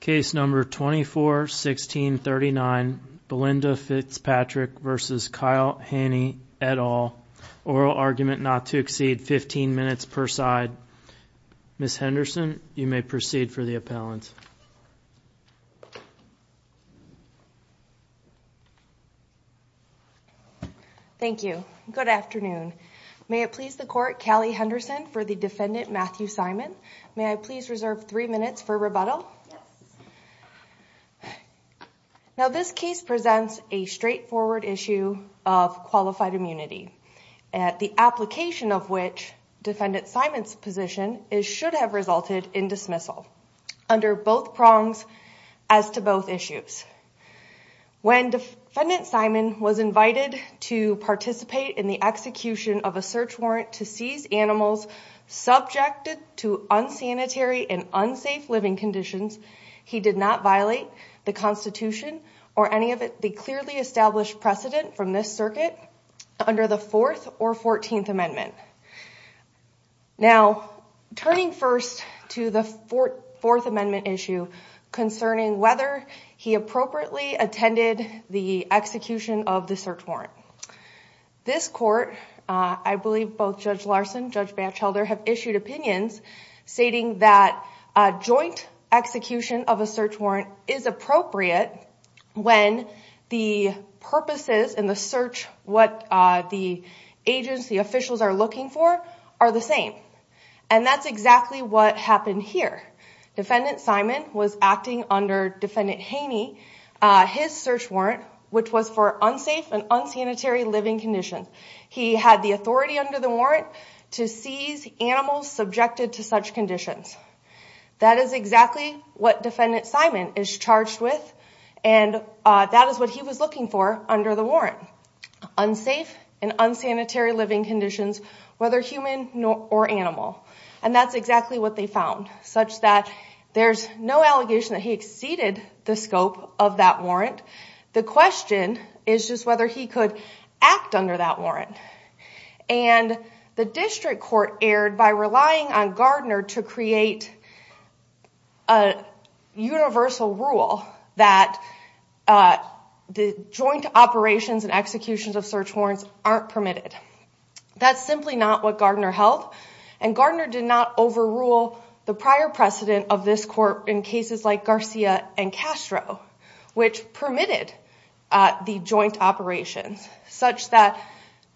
Case number 241639 Belinda Fitzpatrick v. Kyle Hanney et al. Oral argument not to exceed 15 minutes per side. Ms. Henderson, you may proceed for the appellant. Thank you. Good afternoon. May it please the court, Callie Henderson for the defendant Matthew Simon. May I please reserve three minutes for rebuttal? Now this case presents a straightforward issue of qualified immunity at the application of which defendant Simon's position is should have resulted in dismissal under both prongs as to both issues. When defendant Simon was invited to participate in the execution of a search warrant to seize animals subjected to unsanitary and unsafe living conditions, he did not violate the Constitution or any of the clearly established precedent from this circuit under the 4th or 14th Amendment. Now turning first to the 4th Amendment issue concerning whether he appropriately attended the execution of the search warrant. This court, I believe both Judge Larson and Judge Batchelder have issued opinions stating that a joint execution of a search warrant is appropriate when the purposes in the search, what the agency officials are looking for, are the same. And that's exactly what happened here. Defendant Simon was acting under Defendant Haney. His search warrant, which was for unsafe and unsanitary living conditions, he had the authority under the warrant to seize animals subjected to such conditions. That is exactly what defendant Simon is charged with and that is what he was looking for under the warrant. Unsafe and unsanitary living conditions, whether human or animal. And that's exactly what they found, such that there's no allegation that he exceeded the scope of that warrant. The question is just whether he could act under that warrant. And the district court erred by relying on Gardner to create a universal rule that the joint operations and executions of search warrants aren't permitted. That's simply not what Gardner held and Gardner did not overrule the prior precedent of this court in cases like Garcia and Castro, which permitted the joint operations. Such that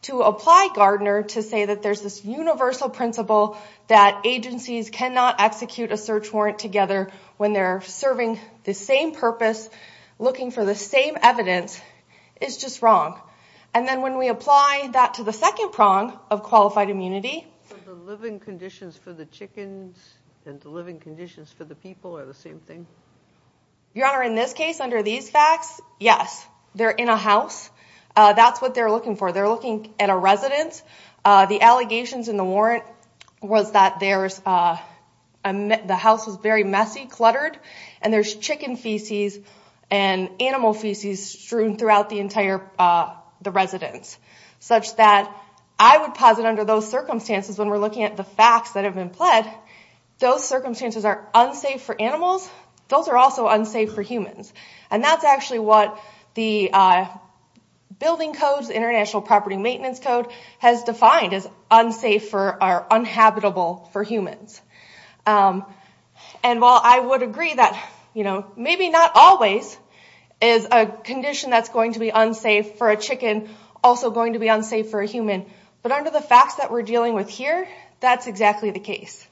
to apply Gardner to say that there's this universal principle that agencies cannot execute a search warrant together when they're serving the same purpose, looking for the same evidence, is just wrong. And then when we apply that to the second prong of qualified immunity... So the living conditions for the chickens and the living conditions for the people are the same thing? Your Honor, in this case, under these facts, yes, they're in a house. That's what they're looking for. They're looking at a residence. The allegations in the warrant was that the house was very messy, cluttered, and there's chicken feces and animal feces strewn throughout the entire residence. Such that I would posit under those circumstances, when we're looking at the facts that have been pled, those circumstances are unsafe for animals. Those are also unsafe for humans. And that's actually what the building codes, International Property Maintenance Code, has defined as unsafe or unhabitable for humans. And while I would agree that maybe not always is a condition that's going to be unsafe for a chicken also going to be unsafe for a human, but under the facts that we're dealing with here, that's exactly the case.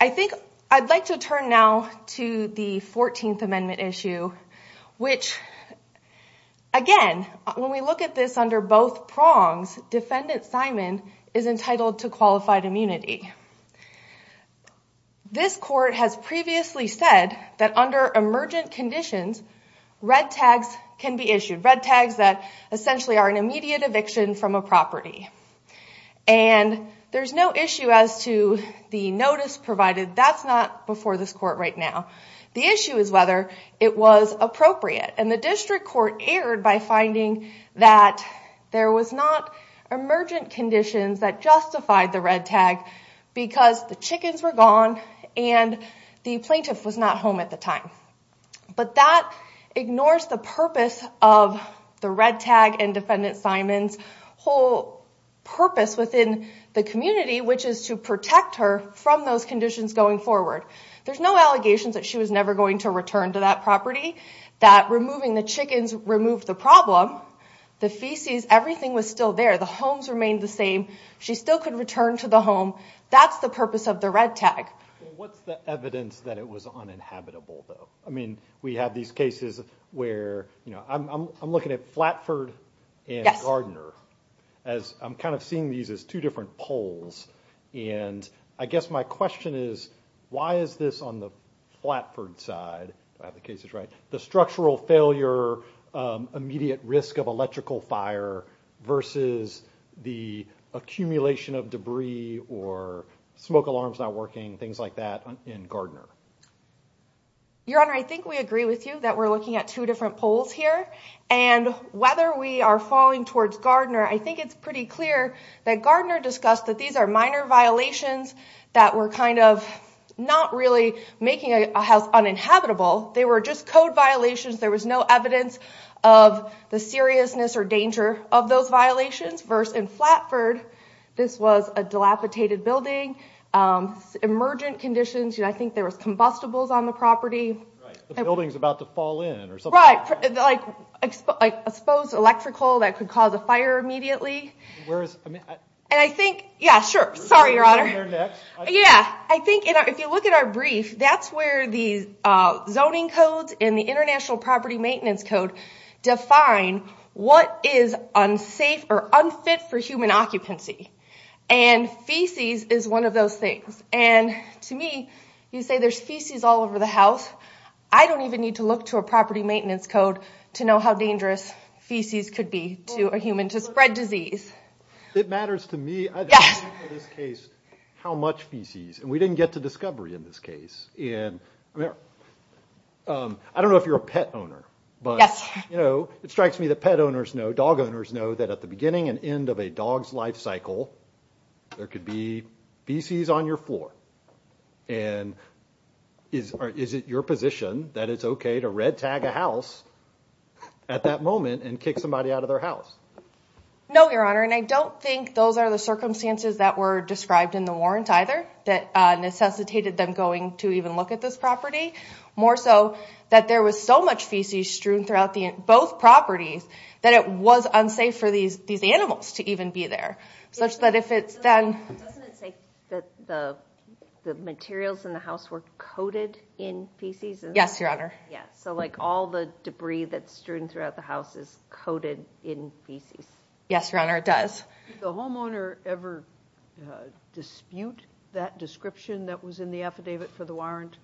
I think I'd like to turn now to the 14th Amendment issue, which, again, when we look at this under both prongs, Defendant Simon is entitled to qualified immunity. This court has previously said that under emergent conditions, red tags can be issued. Red tags that essentially are an And there's no issue as to the notice provided. That's not before this court right now. The issue is whether it was appropriate. And the district court erred by finding that there was not emergent conditions that justified the red tag because the chickens were gone and the plaintiff was not home at the time. But that ignores the purpose of the red tag and Defendant Simon's whole purpose within the community, which is to protect her from those conditions going forward. There's no allegations that she was never going to return to that property, that removing the chickens removed the problem. The feces, everything was still there. The homes remained the same. She still could return to the home. That's the purpose of the red tag. What's the evidence that it was uninhabitable, though? I mean, we have these cases where, you know, I'm looking at Flatford and Gardner as I'm kind of seeing these as two different polls. And I guess my question is, why is this on the Flatford side? If I have the cases right, the structural failure, immediate risk of electrical fire versus the accumulation of debris or smoke alarms not working, things like that in Gardner. Your Honor, I think we agree with you that we're looking at two different polls here. And whether we are falling towards Gardner, I think it's pretty clear that Gardner discussed that these are minor violations that were kind of not really making a house uninhabitable. They were just code violations. There was no evidence of the seriousness or danger of those violations. Versus in Flatford, this was a dilapidated building, emergent conditions. I think there was combustibles on the property. Right, the building's about to fall in or something. Right, like exposed electrical that could cause a fire immediately. And I think, yeah, sure, sorry, Your Honor. Yeah, I think if you look at our brief, that's where the zoning codes and the International Property Maintenance Code define what is unsafe or unfit for human occupancy. And feces is one of those things. And to me, you say there's feces all over the house. I don't even need to look to a property maintenance code to know how dangerous feces could be to a human, to spread disease. It matters to me, in this case, how much feces. And we didn't get to discovery in this case. And I don't know if you're a pet owner, but it strikes me that pet owners know, dog owners know, that at the beginning and end of a dog's life cycle, there could be feces on your floor. And is it your position that it's okay to red tag a house at that moment and kick somebody out of their house? No, Your Honor. And I don't think those are the circumstances that were described in the warrant, either, that necessitated them going to even look at this property. More so, that there was so much feces strewn throughout both properties that it was unsafe for these animals to even be there, such that if it's then- Doesn't it say that the materials in the house were coated in feces? Yes, Your Honor. Yeah, so like all the debris that's strewn dispute that description that was in the affidavit for the warrant?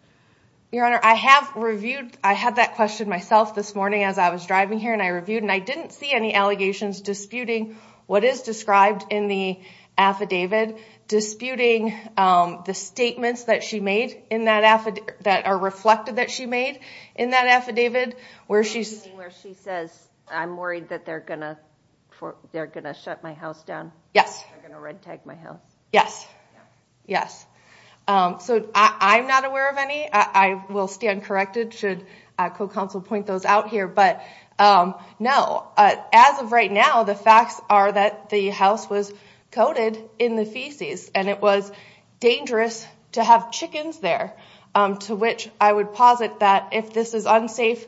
Your Honor, I have reviewed, I had that question myself this morning as I was driving here, and I reviewed, and I didn't see any allegations disputing what is described in the affidavit, disputing the statements that she made in that affidavit, that are reflected that she made in that affidavit, where she's- Where she says, I'm worried that they're going to shut my house down. Yes. They're going to red tag my house. Yes, yes. So I'm not aware of any. I will stand corrected should a co-counsel point those out here. But no, as of right now, the facts are that the house was coated in the feces, and it was dangerous to have chickens there, to which I would posit that if this is unsafe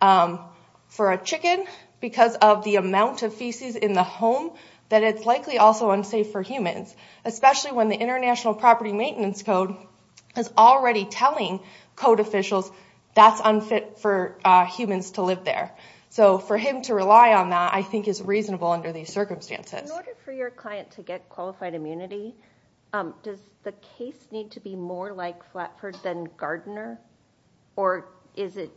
for a chicken because of the amount of feces in the home, that it's likely also unsafe for humans, especially when the International Property Maintenance Code is already telling code officials that's unfit for humans to live there. So for him to rely on that, I think is reasonable under these circumstances. In order for your client to get qualified immunity, does the case need to be more like Flatford than Gardner? Or is it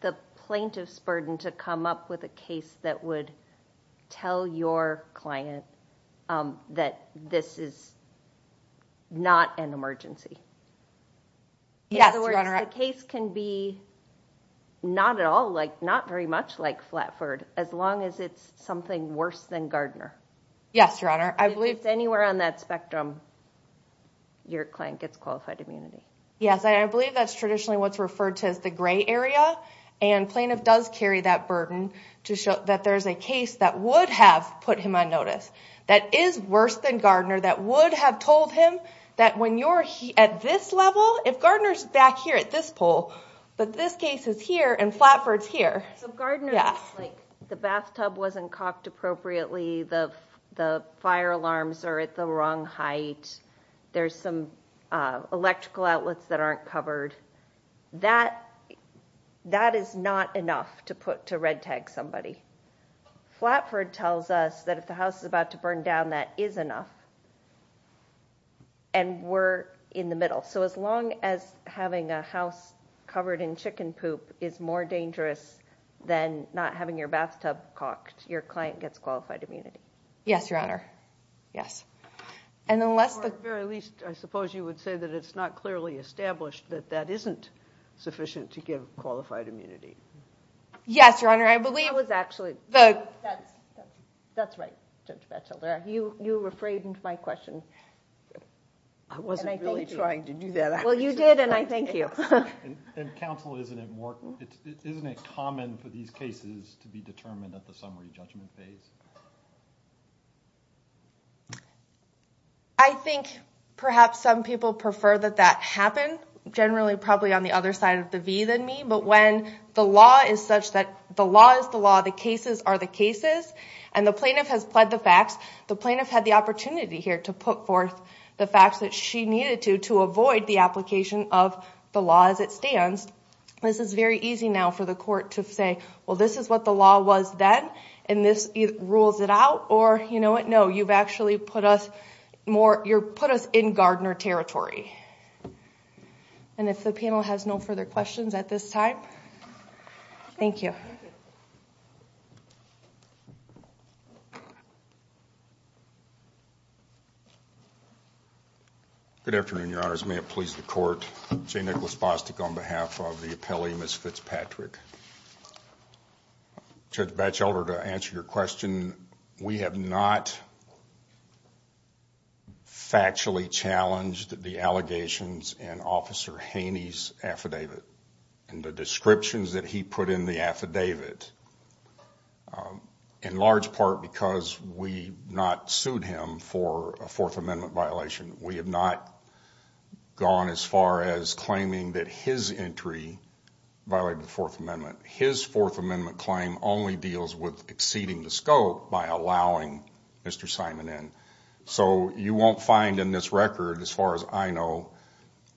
the plaintiff's burden to come up with a case that would tell your client that this is not an emergency? In other words, the case can be not at all, not very much like Flatford, as long as it's something worse than Gardner. Yes, Your Honor. I believe- If it's anywhere on that spectrum, your client gets qualified immunity. Yes. I believe that's traditionally what's referred to as the gray area, and plaintiff does carry that burden to show that there's a case that would have put him on notice, that is worse than Gardner, that would have told him that when you're at this level, if Gardner's back here at this pole, but this case is here and Flatford's here. So Gardner's like, the bathtub wasn't cocked appropriately, the fire alarms are at the wrong height, there's some electrical outlets that aren't covered. That is not enough to red tag somebody. Flatford tells us that if the house is about to burn down, that is enough, and we're in the middle. So as long as having a house covered in chicken poop is more dangerous than not having your bathtub cocked, your client gets qualified immunity. Yes, Your Honor. Yes. And unless the- Or at the very least, I suppose you would say that it's not clearly established that that isn't sufficient to give qualified immunity. Yes, Your Honor. I believe- That was actually- That's right, Judge Batchelder. You refrained my question. I wasn't really trying to do that. Well, you did, and I thank you. And counsel, isn't it common for these cases to be determined at the summary judgment phase? I think perhaps some people prefer that that happen, generally probably on the other side of the V than me, but when the law is such that the law is the law, the cases are the cases, and the plaintiff has pled the facts, the plaintiff had the opportunity here to put forth the facts that she needed to, to avoid the application of the law as it stands. This is very easy now for the court to say, well, this is what the law was then, and this rules it out, or, you know what, no, you've actually put us more- You've put us in Gardner territory. And if the panel has no further questions at this time, thank you. Good afternoon, Your Honors. May it please the court, Jay Nicholas Bostic on behalf of the appellee, Ms. Fitzpatrick. Judge Batchelder, to answer your question, we have not factually challenged the allegations in Officer Haney's affidavit, and the descriptions that he put in the affidavit, in large part because we not sued him for a Fourth Amendment violation. We have not gone as far as claiming that his entry violated the Fourth Amendment. His Fourth Amendment claim only deals with exceeding the scope by allowing Mr. Simon in. So you won't find in this record, as far as I know,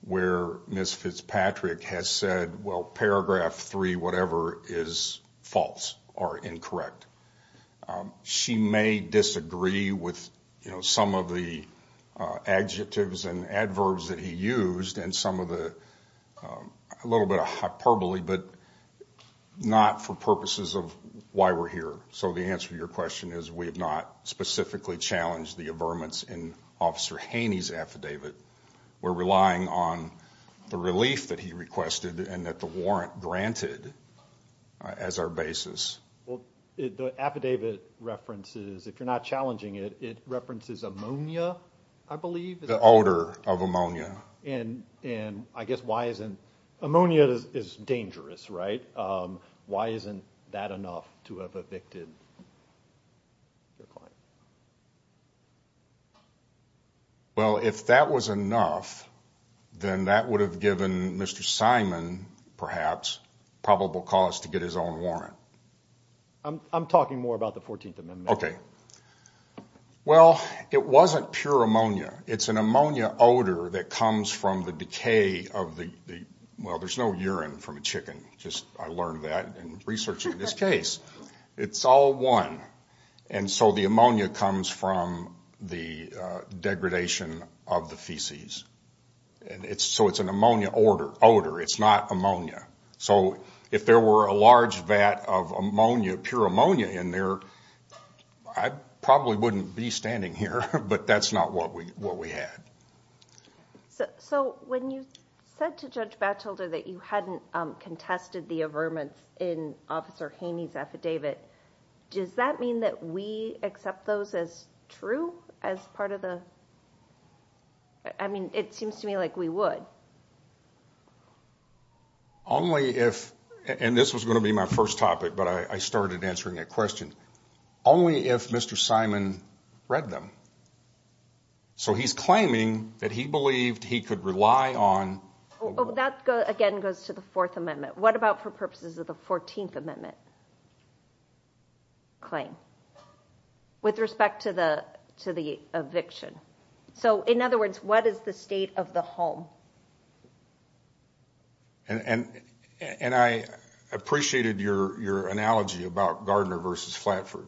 where Ms. Fitzpatrick has said, well, paragraph three, whatever, is false or incorrect. She may disagree with, you know, some of the adjectives and adverbs that he used, and some of the- a little bit of hyperbole, but not for purposes of why we're here. So the answer to your question is we have not specifically challenged the averments in Officer Haney's affidavit. We're relying on the relief that he requested and that the warrant granted as our basis. Well, the affidavit references, if you're not challenging it, it references ammonia, I believe. The odor of ammonia. And I guess why isn't- ammonia is dangerous, right? Why isn't that enough to have evicted your client? Well, if that was enough, then that would have given Mr. Simon, perhaps, probable cause to get his own warrant. I'm talking more about the 14th Amendment. Okay. Well, it wasn't pure ammonia. It's an ammonia odor that comes from the decay of the- well, there's no urine from a chicken. Just, I learned that in researching this case. It's all one. And so the ammonia comes from the degradation of the feces. And it's- so it's an odor. It's not ammonia. So if there were a large vat of ammonia, pure ammonia in there, I probably wouldn't be standing here, but that's not what we had. So when you said to Judge Batchelder that you hadn't contested the averments in Officer Haney's affidavit, does that mean that we accept those as true as part of the- I mean, it seems to me like we would. Only if- and this was going to be my first topic, but I started answering that question. Only if Mr. Simon read them. So he's claiming that he believed he could rely on- That, again, goes to the Fourth Amendment. What about for purposes of the 14th Amendment claim? With respect to the eviction? So in other words, what is the state of the home? And I appreciated your analogy about Gardner versus Flatford.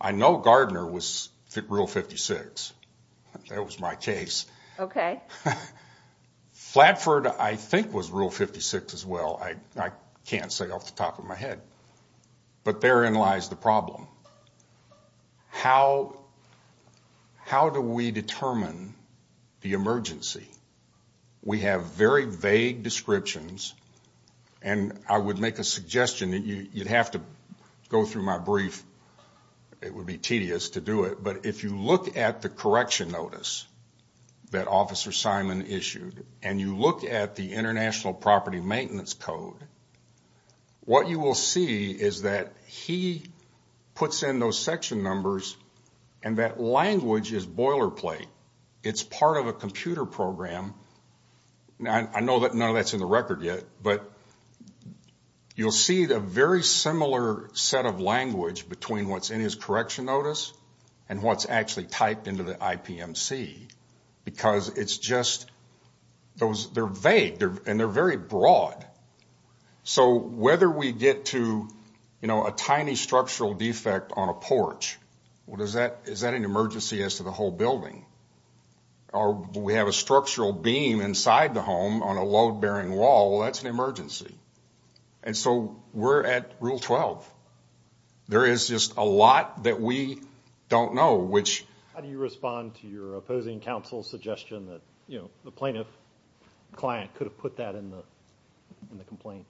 I know Gardner was Rule 56. That was my case. Okay. Flatford, I think, was Rule 56 as well. I can't say off the top of my head. But therein lies the problem. How do we determine the emergency? We have very vague descriptions, and I would make a suggestion that you'd have to go through my brief. It would be tedious to do it, but if you look at the correction notice that Officer Simon issued, and you look at the International Property Maintenance Code, what you will see is that he puts in those section numbers and that language is boilerplate. It's part of a computer program. I know that none of that's in the record yet, but you'll see a very similar set of language between what's in his correction notice and what's actually typed into the IPMC. Because it's just, they're vague, and they're very broad. So whether we get to a tiny structural defect on a porch, is that an emergency as to the whole building? Or we have a structural beam inside the home on a load-bearing wall, that's an emergency. And so we're at Rule 12. There is just a lot that we don't know, which... How do you respond to your opposing counsel's suggestion that, you know, the plaintiff client could have put that in the complaint?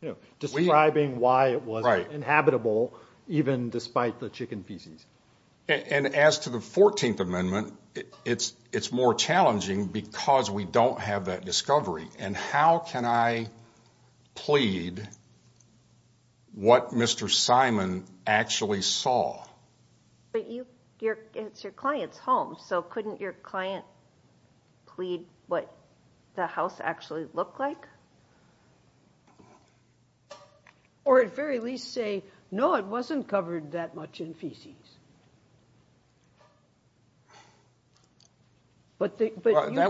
You know, describing why it was inhabitable, even despite the chicken feces. And as to the 14th Amendment, it's more challenging because we don't have that discovery. And how can I plead what Mr. Simon actually saw? But it's your client's home, so couldn't your client plead what the house actually looked like? Or at very least say, no, it wasn't covered that much in feces. But you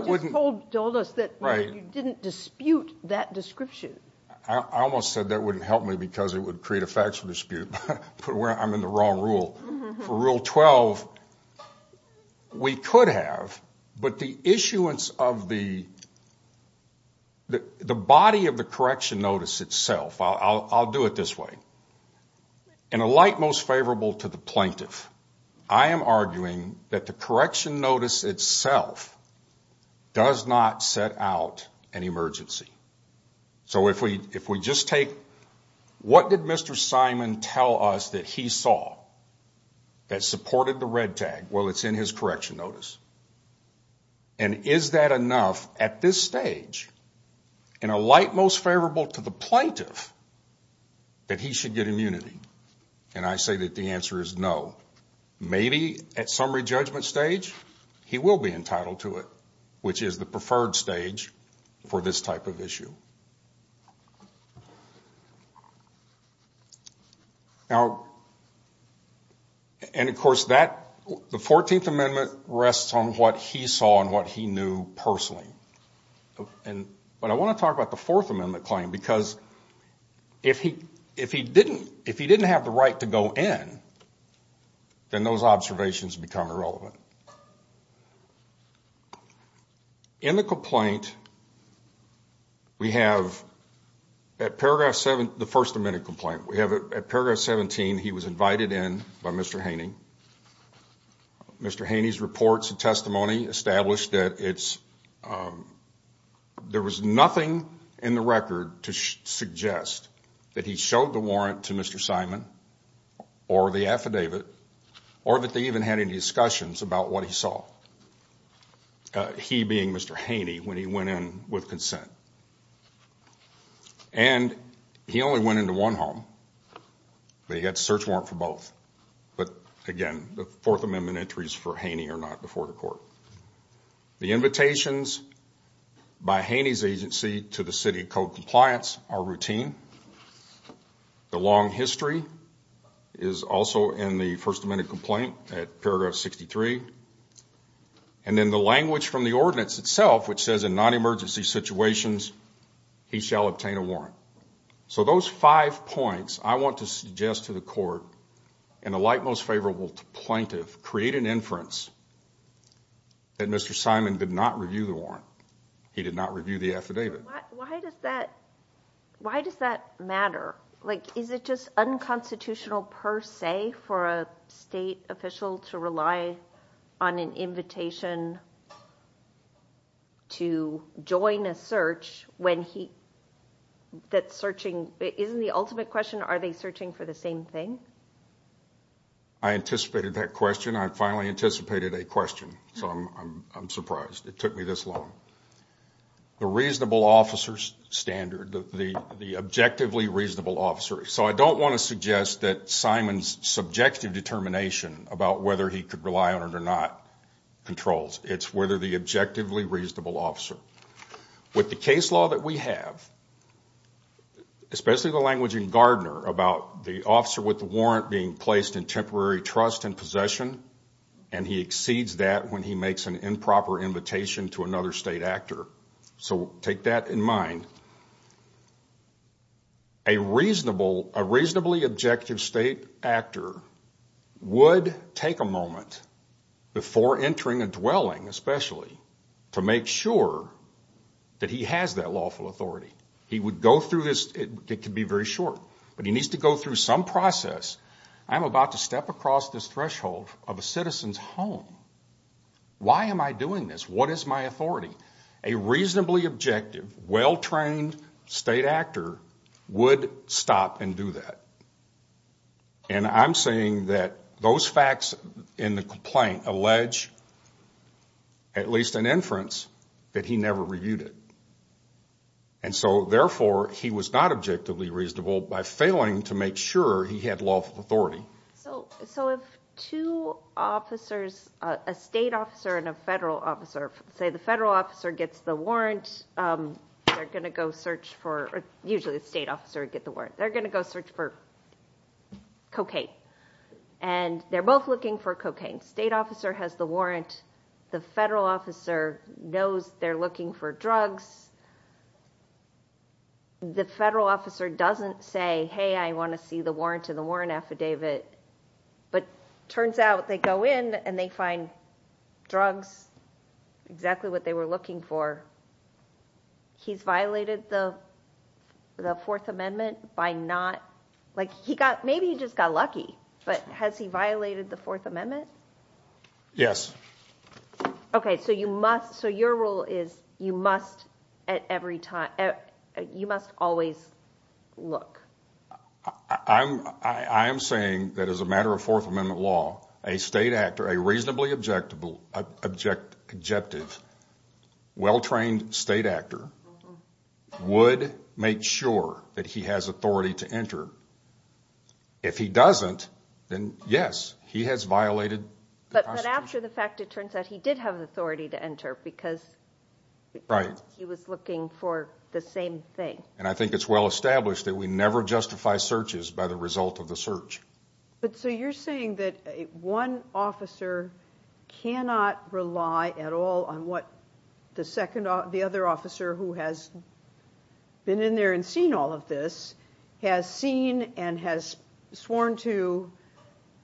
just told us that you didn't dispute that description. I almost said that wouldn't help me because it would create a factual dispute. I'm in the wrong rule. For Rule 12, we could have, but the issuance of the body of the correction notice itself, I'll do it this way. In a light most favorable to the plaintiff, I am arguing that the correction notice itself does not set out an emergency. So if we just take what did Mr. Simon tell us that he saw that supported the red tag? Well, it's in his correction notice. And is that enough at this stage in a light most favorable to the plaintiff that he should get immunity? And I say that the answer is no. Maybe at summary judgment stage, he will be entitled to it, which is the preferred stage for this type of issue. Now, and of course, the 14th Amendment rests on what he saw and what he knew personally. But I want to talk about the 4th Amendment claim because if he didn't have the right to go in, then those observations become irrelevant. In the complaint, we have at paragraph 7, the 1st Amendment complaint, we have at paragraph 17, he was invited in by Mr. Haney. Mr. Haney's reports and testimony established that it's there was nothing in the record to suggest that he showed the warrant to Mr. Simon or the affidavit or that they even had any discussions about what he saw, he being Mr. Haney, when he went in with consent. And he only went into one home, but he had to search warrant for both. But again, the 4th Amendment entries for Haney are not before the court. The invitations by Haney's agency to the city of code compliance are routine. The long history is also in the 1st Amendment complaint at paragraph 63. And then the language from the ordinance itself, which says in non-emergency situations, he shall obtain a warrant. So those five points I want to suggest to the court and the light most favorable to plaintiff create an inference that Mr. Simon did not review the warrant. He did not review the affidavit. Why does that matter? Like, is it just unconstitutional per se for a state official to rely on an invitation to join a search when he that's searching? Isn't the ultimate question, are they searching for the same thing? I anticipated that question. I finally anticipated a question. So I'm surprised it took me this long. The reasonable officer's standard, the objectively reasonable officer. So I don't want to suggest that Simon's subjective determination about whether he could rely on it or not controls. It's whether the objectively reasonable officer with the case law that we have, especially the language in Gardner about the officer with the warrant being placed in temporary trust and possession. And he exceeds that when he makes an improper invitation to another state actor. So take that in mind. A reasonable, a reasonably objective state actor would take a moment before entering a dwelling, especially, to make sure that he has that lawful authority. He would go through this, it could be very short, but he needs to go through some process. I'm about to step across this threshold of a citizen's home. Why am I doing this? What is my authority? A reasonably objective, well-trained state actor would stop and do that. And I'm saying that those facts in the complaint allege, at least in inference, that he never reviewed it. And so, therefore, he was not objectively reasonable by failing to make sure he had lawful authority. So if two officers, a state officer and a federal officer, say the federal officer gets the warrant, they're going to go search for, usually the state officer would get the warrant, they're going to go search for cocaine. And they're both looking for cocaine. State officer has the warrant. The federal officer knows they're looking for drugs. The federal officer doesn't say, hey, I want to see the warrant to the warrant affidavit. But turns out they go in and they find drugs, exactly what they were looking for. He's violated the Fourth Amendment by not, like he got, maybe he just got lucky, but has he violated the Fourth Amendment? Yes. Okay. So you must, so your rule is, you must at every time, you must always look. I'm saying that as a matter of Fourth Amendment law, a state actor, a reasonably objective, well-trained state actor would make sure that he has authority to enter. If he doesn't, then yes, he has violated the Constitution. But after the fact, it turns out he did have authority to enter because he was looking for the same thing. And I think it's well established that we never justify searches by the result of the search. But so you're saying that one officer cannot rely at all on what the second, the other officer who has been in there and seen all of this has seen and has sworn to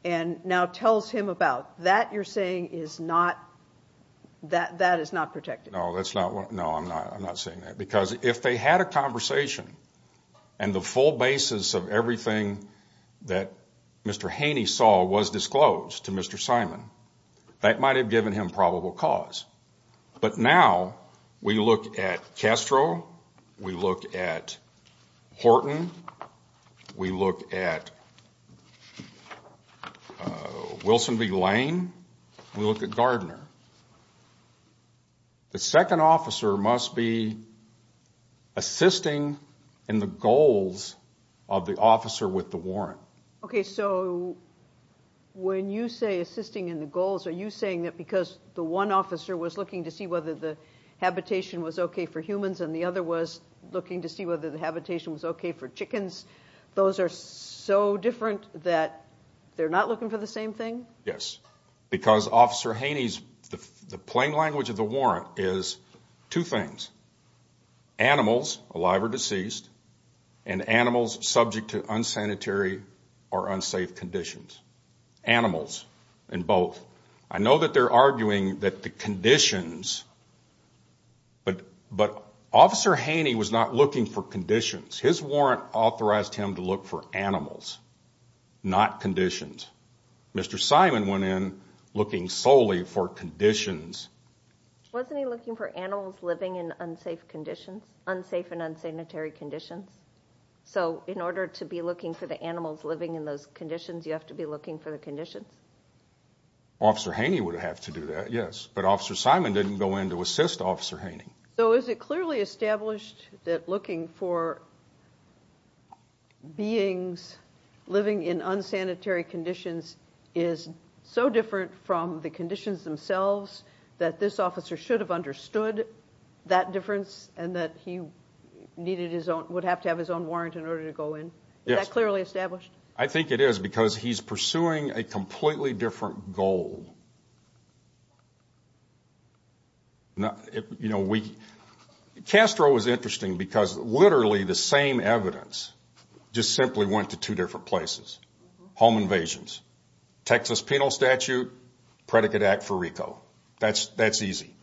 and now tells him about. That you're saying is not, that is not protected. No, that's not what, no, I'm not, I'm not saying that. Because if they had a conversation and the full basis of everything that Mr. Haney saw was disclosed to Mr. Simon, that might've given him probable cause. But now we look at Castro, we look at Horton, we look at Wilson v. Lane, we look at Gardner. The second officer must be assisting in the goals of the officer with the warrant. Okay, so when you say assisting in the goals, are you saying that because the one officer was looking to see whether the habitation was okay for humans and the other was looking to see whether the habitation was okay for chickens, those are so different that they're not looking for the same thing? Yes, because Officer Haney's, the plain language of the warrant is two things. Animals, alive or deceased, and animals subject to unsanitary or unsafe conditions. Animals in both. I know that they're arguing that the conditions, but Officer Haney was not looking for conditions. His warrant authorized him to look for animals, not conditions. Mr. Simon went in looking solely for conditions. Wasn't he looking for animals living in unsafe conditions? Unsafe and unsanitary conditions? So in order to be looking for the animals living in those conditions, you have to be looking for the conditions? Well, Officer Haney would have to do that, yes, but Officer Simon didn't go in to assist Officer Haney. So is it clearly established that looking for beings living in unsanitary conditions is so different from the conditions themselves that this officer should have understood that difference and that he needed his own, would have to have his own warrant in order to go in? Yes. Is that clearly established? I think it is because he's pursuing a completely different goal. Castro was interesting because literally the same evidence just simply went to two different places. Home invasions. Texas penal statute, predicate act for RICO. That's easy.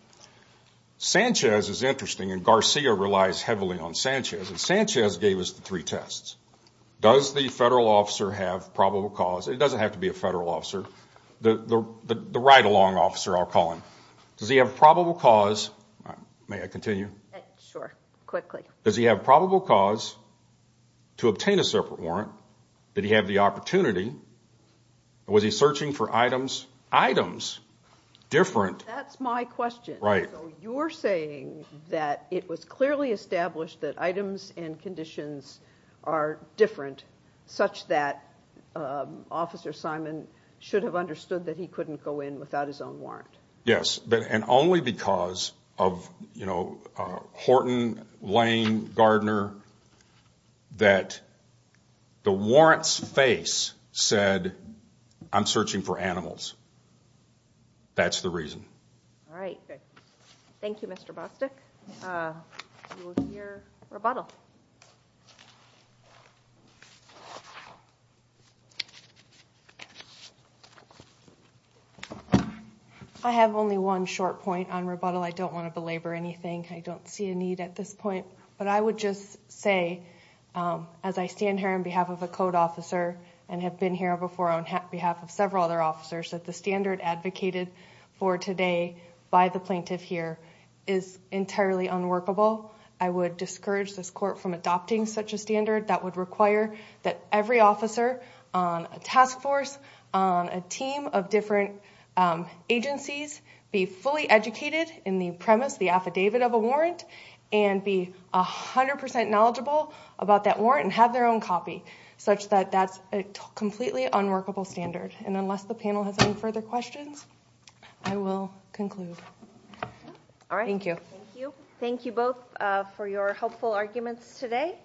Sanchez is interesting, and Garcia relies heavily on Sanchez, and Sanchez gave us the three tests. Does the federal officer have probable cause? It doesn't have to be a federal officer. The ride-along officer, I'll call him. Does he have probable cause, may I continue? Sure, quickly. Does he have probable cause to obtain a separate warrant? Did he have the opportunity? Was he searching for items, items different? That's my question. Right. You're saying that it was clearly established that items and conditions are different such that Officer Simon should have understood that he couldn't go in without his own warrant. Yes, and only because of Horton, Lane, Gardner, that the warrant's face said, I'm searching for animals. That's the reason. All right. Thank you, Mr. Bostick. We will hear rebuttal. I have only one short point on rebuttal. I don't want to belabor anything. I don't see a need at this point, but I would just say as I stand here on behalf of a code officer and have been here before on behalf of several other officers that the standard advocated for today by the plaintiff here is entirely unworkable. I would discourage this court from adopting such a standard that would require that every officer on a task force, on a team of different agencies be fully educated in the premise, the affidavit of a warrant, and be 100% knowledgeable about that warrant and have their own copy such that that's a completely unworkable standard. And unless the panel has any further questions. I will conclude. All right. Thank you. Thank you. Thank you both for your helpful arguments today.